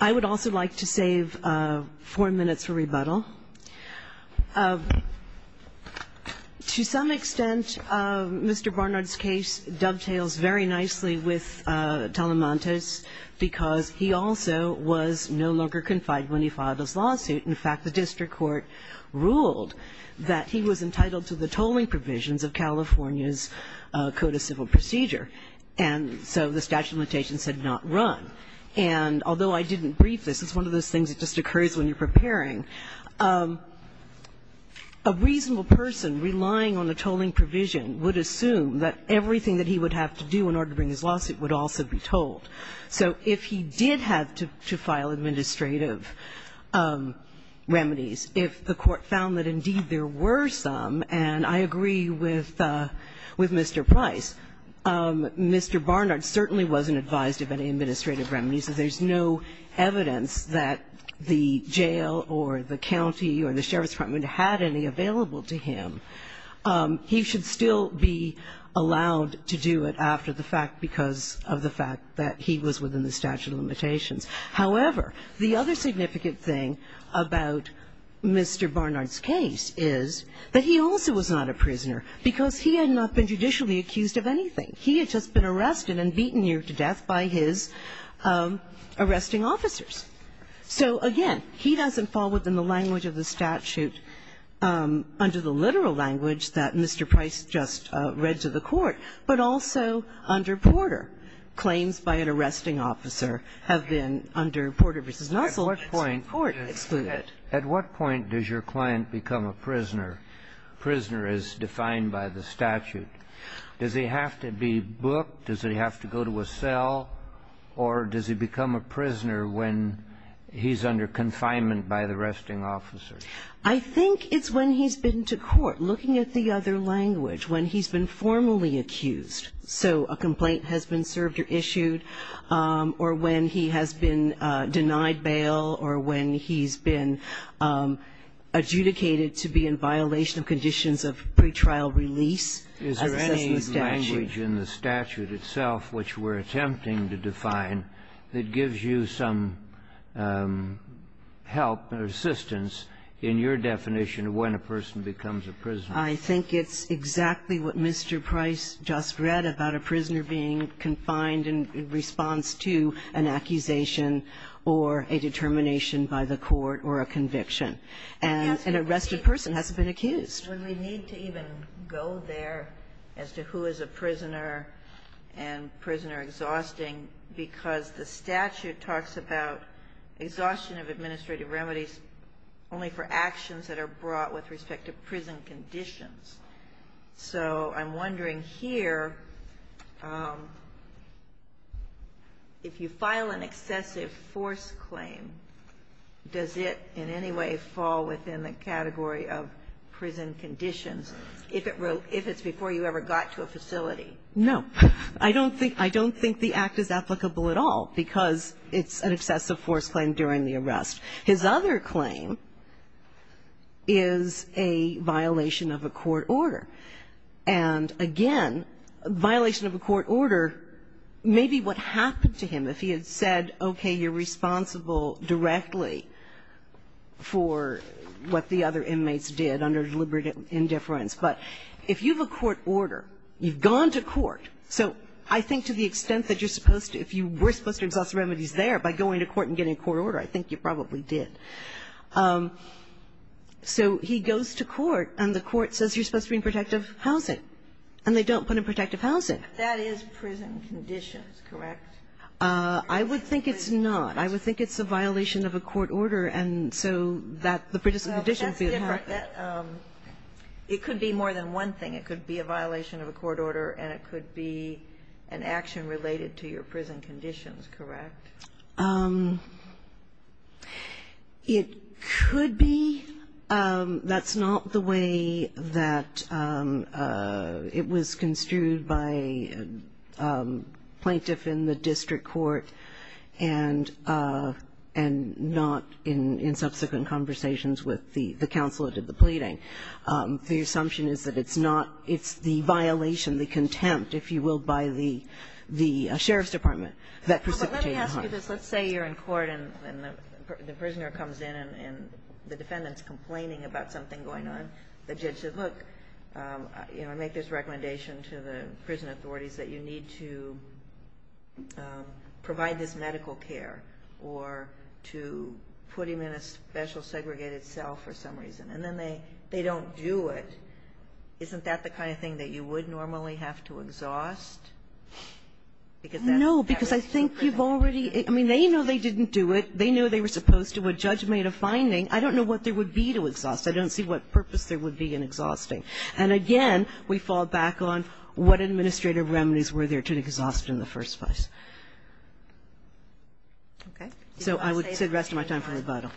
I would also like to save four minutes for rebuttal. To some extent, Mr. Barnard's case dovetails very nicely with Talamante's because he also was no longer confined when he filed his lawsuit. In fact, the district court ruled that he was entitled to the tolling provisions of California's Code of Civil Procedure. And so the statute of limitations had not run. And although I didn't brief this, it's one of those things that just occurs when you're preparing. A reasonable person relying on a tolling provision would assume that everything that he would have to do in order to bring his lawsuit would also be tolled. So if he did have to file administrative remedies, if the court found that, indeed, there were some and I agree with Mr. Price, Mr. Barnard certainly wasn't advised of any administrative remedies. So there's no evidence that the jail or the county or the sheriff's department had any available to him. He should still be allowed to do it after the fact because However, the other significant thing about Mr. Barnard's case is that he also was not a prisoner because he had not been judicially accused of anything. He had just been arrested and beaten near to death by his arresting officers. So again, he doesn't fall within the language of the statute under the literal language that Mr. Price just read to the court, but also under Porter. Claims by an arresting officer have been under Porter v. Nusselt, court excluded. At what point does your client become a prisoner? Prisoner is defined by the statute. Does he have to be booked? Does he have to go to a cell? Or does he become a prisoner when he's under confinement by the arresting officer? I think it's when he's been to court, looking at the other language, when he's been formally accused. So a complaint has been served or issued or when he has been denied bail or when he's been adjudicated to be in violation of conditions of pretrial release. Is there any language in the statute itself, which we're attempting to define, that gives you some help or assistance in your definition of when a person becomes a prisoner? I think it's exactly what Mr. Price just read about a prisoner being confined in response to an accusation or a determination by the court or a conviction. And an arrested person hasn't been accused. But we need to even go there as to who is a prisoner and prisoner exhausting, because the statute talks about exhaustion of administrative remedies only for actions that are brought with respect to prison conditions. So I'm wondering here, if you file an excessive force claim, does it in any way fall within the category of prison conditions if it's before you ever got to a facility? No. I don't think the Act is applicable at all, because it's an excessive force claim during the arrest. His other claim is a violation of a court order. And, again, a violation of a court order may be what happened to him if he had said, okay, you're responsible directly for what the other inmates did under deliberate indifference. But if you have a court order, you've gone to court. So I think to the extent that you're supposed to, if you were supposed to exhaust remedies there by going to court and getting a court order, I think you probably did. So he goes to court, and the court says you're supposed to be in protective housing, and they don't put him in protective housing. That is prison conditions, correct? I would think it's not. I would think it's a violation of a court order, and so that the prison conditions would be a part of it. Well, that's different. It could be more than one thing. It could be a violation of a court order, and it could be an action related to your case, correct? It could be. That's not the way that it was construed by a plaintiff in the district court, and not in subsequent conversations with the counsel that did the pleading. The assumption is that it's not. It's the violation, the contempt, if you will, by the sheriff's department that precipitated it. But let me ask you this. Let's say you're in court, and the prisoner comes in, and the defendant is complaining about something going on. The judge says, look, you know, I make this recommendation to the prison authorities that you need to provide this medical care, or to put him in a special segregated cell for some reason, and then they don't do it. Isn't that the kind of thing that you would normally have to exhaust? No, because I think you've already – I mean, they know they didn't do it. They knew they were supposed to. A judge made a finding. I don't know what there would be to exhaust. I don't see what purpose there would be in exhausting. And again, we fall back on what administrative remedies were there to exhaust in the first place. Okay. So I would say the rest of my time for rebuttal.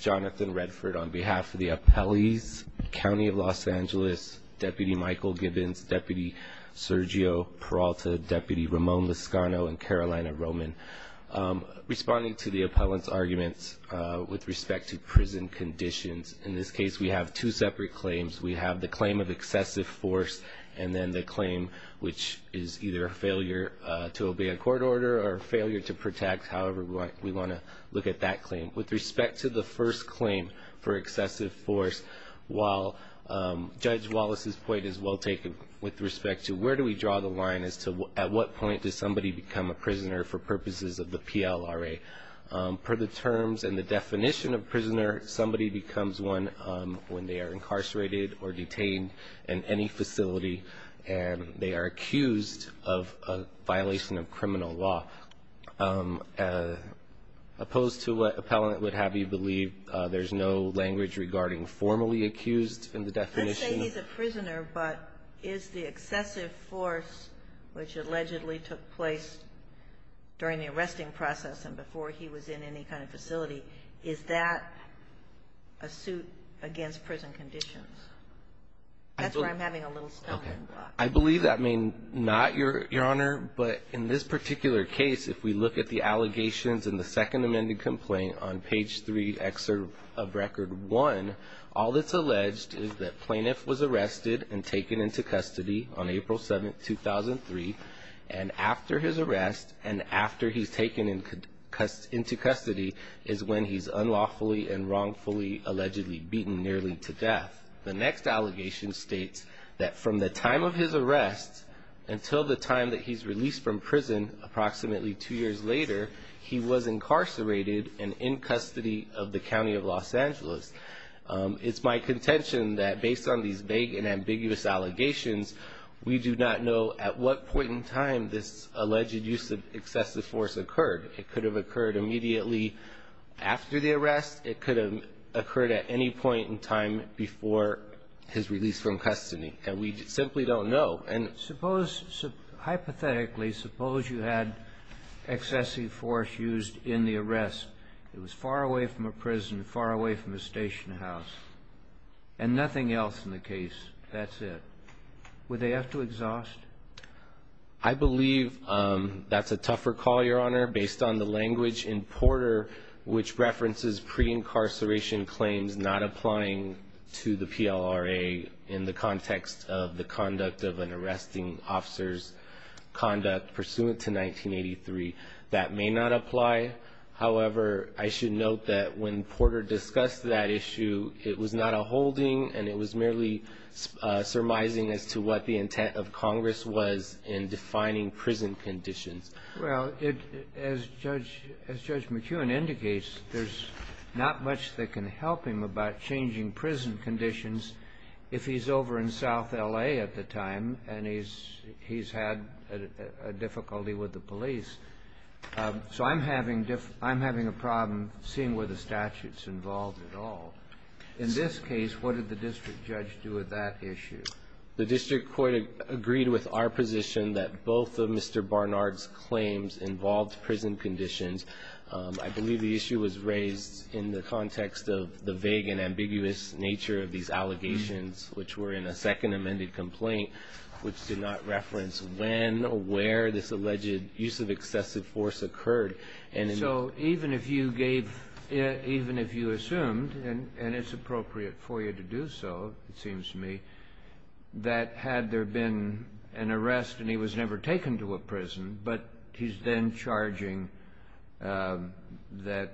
Jonathan Redford, on behalf of the appellees, County of Los Angeles, Deputy Michael Gibbons, Deputy Sergio Peralta, Deputy Ramon Lascano, and Carolina Roman. Responding to the appellant's arguments with respect to prison conditions, in this case, we have two separate claims. We have the claim of excessive force, and then the claim which is either a failure to obey a court order or a failure to protect. However, we want to look at that claim. With respect to the first claim for excessive force, while Judge Wallace's point is well taken with respect to where do we draw the line as to at what point does somebody become a prisoner for purposes of the PLRA, per the terms and the definition of prisoner, somebody becomes one when they are incarcerated or detained in any facility, and they are accused of a violation of criminal law. Opposed to what appellant would have you believe, there's no language regarding formally accused in the definition. Let's say he's a prisoner, but is the excessive force which allegedly took place during the arresting process and before he was in any kind of facility, is that a suit against prison conditions? That's where I'm having a little stumbling block. I believe that may not, Your Honor, but in this particular case, if we look at the allegations in the second amended complaint on page three excerpt of record one, all that's alleged is that plaintiff was arrested and taken into custody on April 7, 2003, and after his arrest and after he's taken into custody is when he's unlawfully and wrongfully allegedly beaten nearly to death. The next allegation states that from the time of his arrest until the time that he's released from prison approximately two years later, he was incarcerated and in custody of the County of Los Angeles. It's my contention that based on these vague and ambiguous allegations, we do not know at what point in time this alleged use of excessive force occurred. It could have occurred immediately after the arrest. It could have occurred at any point in time before his release from custody, and we simply don't know. And suppose, hypothetically, suppose you had excessive force used in the arrest. It was far away from a prison, far away from a station house, and nothing else in the case. That's it. Would they have to exhaust? I believe that's a tougher call, Your Honor, based on the language in Porter which references pre-incarceration claims not applying to the PLRA in the context of the conduct of an arresting officer's conduct pursuant to 1983. That may not apply. However, I should note that when Porter discussed that issue, it was not a holding and it was merely surmising as to what the intent of Congress was in defining prison conditions. Well, as Judge McEwen indicates, there's not much that can help him about changing prison conditions if he's over in South L.A. at the time and he's had a difficulty with the police. So I'm having a problem seeing where the statute's involved at all. In this case, what did the district judge do with that issue? The district court agreed with our position that both of Mr. Barnard's claims involved prison conditions. I believe the issue was raised in the context of the vague and ambiguous nature of these allegations which were in a second amended complaint which did not reference when or where this alleged use of excessive force occurred. And so even if you gave even if you assumed, and it's appropriate for you to do so, it seems to me, that had there been an arrest and he was never taken to a prison, but he's then charging that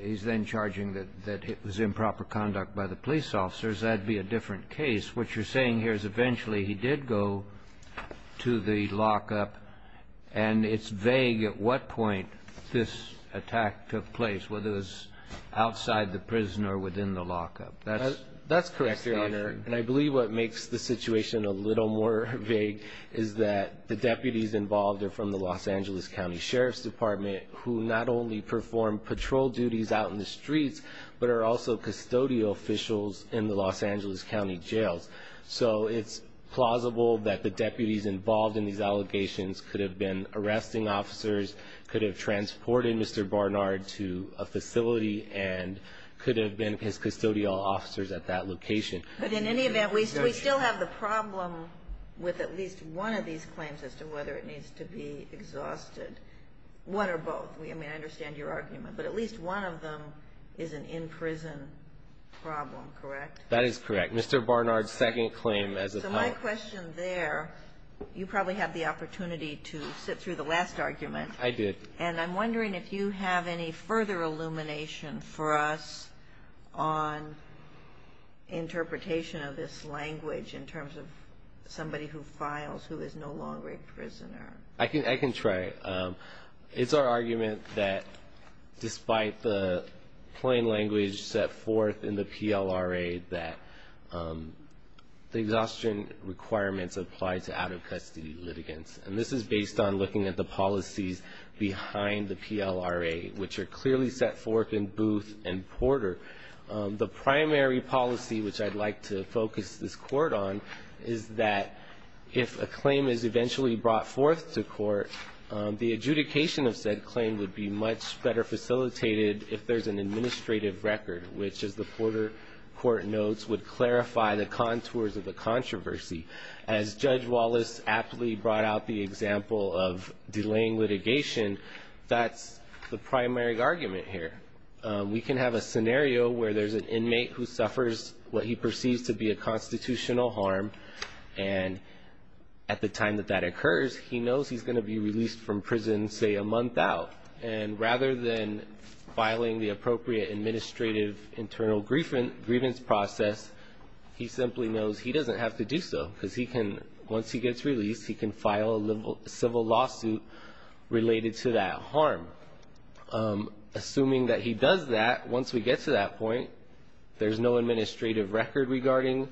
he's then charging that it was improper conduct by the police officers, that'd be a different case. What you're saying here is eventually he did go to the lockup and it's vague at what point this attack took place, whether it was outside the prison or within the lockup. That's correct, Your Honor, and I believe what makes the situation a little more vague is that the deputies involved are from the Los Angeles County Sheriff's Department who not only perform patrol duties out in the streets, but are also custodial officials in the Los Angeles County jails. So it's plausible that the deputies involved in these allegations could have been arresting officers, could have transported Mr. Barnard to a facility, and could have been his custodial officers at that location. But in any event, we still have the problem with at least one of these claims as to whether it needs to be exhausted. One or both, I mean, I understand your argument, but at least one of them is an in-prison problem, correct? That is correct. Mr. Barnard's second claim as a... So my question there, you probably had the opportunity to sit through the last argument. I did. And I'm wondering if you have any further illumination for us on interpretation of this language in terms of somebody who files, who is no longer a prisoner. I can try. It's our argument that despite the plain language set forth in the PLRA, that the exhaustion requirements apply to out-of-custody litigants. And this is based on looking at the policies behind the PLRA, which are clearly set forth in Booth and Porter. The primary policy, which I'd like to focus this court on, is that if a claim is eventually brought forth to court, the adjudication of said claim would be much better facilitated if there's an administrative record, which, as the Porter court notes, would clarify the contours of the controversy. As Judge Wallace aptly brought out the example of delaying litigation, that's the primary argument here. We can have a scenario where there's an inmate who suffers what he perceives to be a constitutional harm. And at the time that that occurs, he knows he's going to be released from prison, say, a month out. And rather than filing the appropriate administrative internal grievance process, he simply knows he doesn't have to do so because he can, once he gets released, he can file a civil lawsuit related to that harm. Assuming that he does that, once we get to that point, there's no administrative record regarding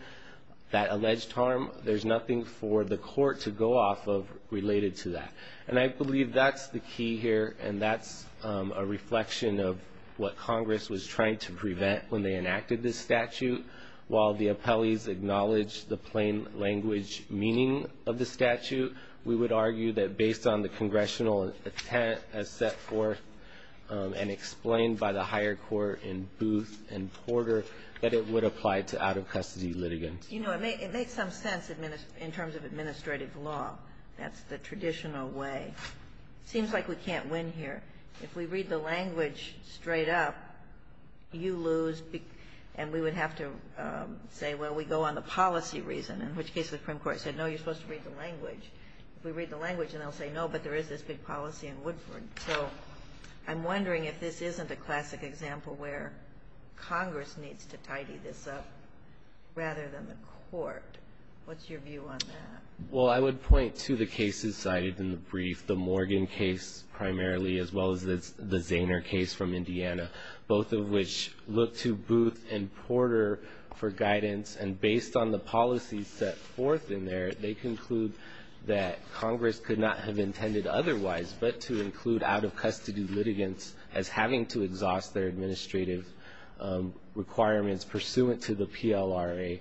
that alleged harm. There's nothing for the court to go off of related to that. And I believe that's the key here, and that's a reflection of what Congress was trying to prevent when they enacted this statute. While the appellees acknowledge the plain language meaning of the statute, we would argue that based on the congressional intent as set forth and explained by the higher court in Booth and Porter, that it would apply to out-of-custody litigants. You know, it makes some sense in terms of administrative law. That's the traditional way. Seems like we can't win here. If we read the language straight up, you lose. And we would have to say, well, we go on the policy reason. In which case the Supreme Court said, no, you're supposed to read the language. If we read the language and they'll say, no, but there is this big policy in Woodford. So I'm wondering if this isn't a classic example where Congress needs to tidy this up rather than the court. What's your view on that? Well, I would point to the cases cited in the brief, the Morgan case primarily, as well as the Zaner case from Indiana. Both of which look to Booth and Porter for guidance. And based on the policies set forth in there, they conclude that Congress could not have intended otherwise, but to include out-of-custody litigants as having to exhaust their administrative requirements pursuant to the PLRA.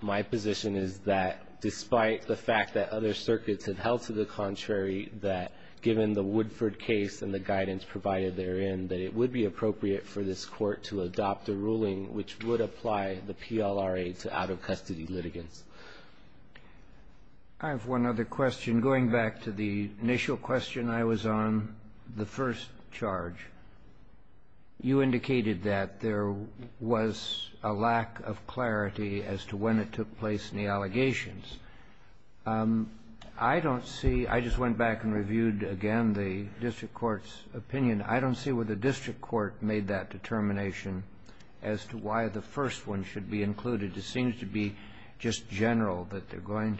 My position is that despite the fact that other circuits have held to the contrary, that given the Woodford case and the guidance provided therein, that it would be appropriate for this court to adopt a ruling which would apply the PLRA to out-of-custody litigants. I have one other question. Going back to the initial question I was on, the first charge, you indicated that there was a lack of clarity as to when it took place in the allegations. I don't see, I just went back and reviewed again the district court's opinion. I don't see where the district court made that determination as to why the first one should be included. It seems to be just general that they're going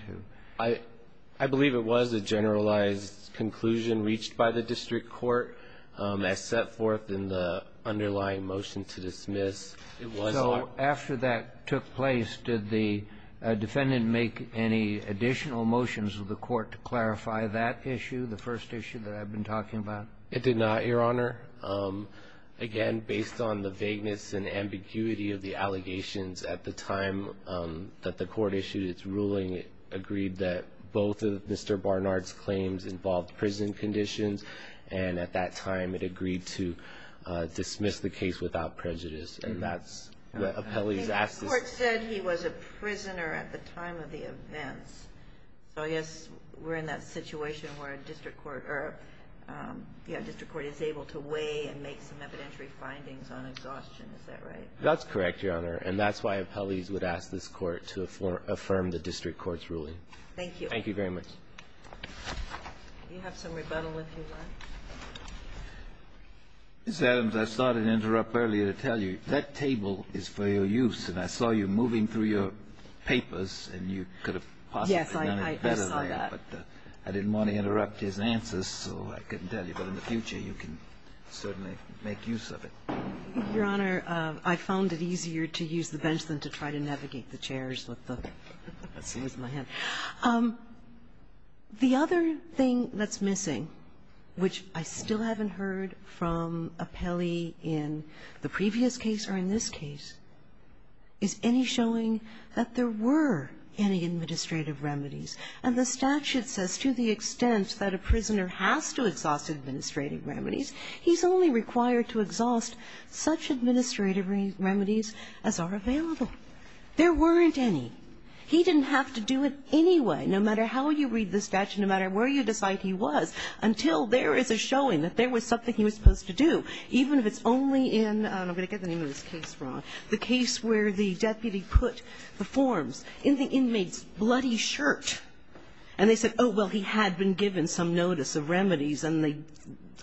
to. I believe it was a generalized conclusion reached by the district court as set forth in the underlying motion to dismiss. So after that took place, did the defendant make any additional motions of the court to clarify that issue, the first issue that I've been talking about? It did not, Your Honor. Again, based on the vagueness and ambiguity of the allegations at the time that the court issued its ruling, it agreed that both of Mr. Barnard's claims involved prison conditions, and at that time it agreed to dismiss the case without prejudice. And that's what appellees ask. The court said he was a prisoner at the time of the events, so I guess we're in that situation where a district court is able to weigh and make some evidentiary findings on exhaustion, is that right? That's correct, Your Honor. And that's why appellees would ask this court to affirm the district court's ruling. Thank you. Thank you very much. Do you have some rebuttal if you want? Ms. Adams, I started to interrupt earlier to tell you, that table is for your use, and I saw you moving through your papers, and you could have possibly done it better. Yes, I saw that. But I didn't want to interrupt his answers, so I couldn't tell you. But in the future, you can certainly make use of it. Your Honor, I found it easier to use the bench than to try to navigate the chairs with the chairs in my hand. The other thing that's missing, which I still haven't heard from appellee in the previous case or in this case, is any showing that there were any administrative remedies. And the statute says to the extent that a prisoner has to exhaust administrative remedies, he's only required to exhaust such administrative remedies as are available. There weren't any. He didn't have to do it anyway, no matter how you read the statute, no matter where you decide he was, until there is a showing that there was something he was supposed to do. Even if it's only in, I'm going to get the name of this case wrong, the case where the deputy put the forms in the inmate's bloody shirt. And they said, oh, well, he had been given some notice of remedies, and they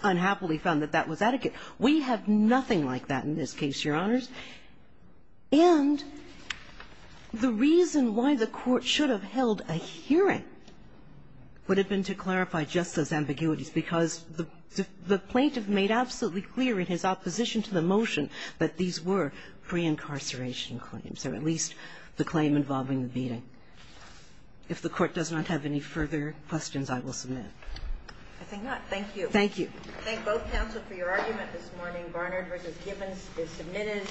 unhappily found that that was adequate. We have nothing like that in this case, Your Honors. And the reason why the Court should have held a hearing would have been to clarify just those ambiguities, because the plaintiff made absolutely clear in his opposition to the motion that these were pre-incarceration claims, or at least the claim involving the beating. If the Court does not have any further questions, I will submit. I think not. Thank you. Thank you. I thank both counsel for your argument this morning. Garner versus Gibbons is submitted.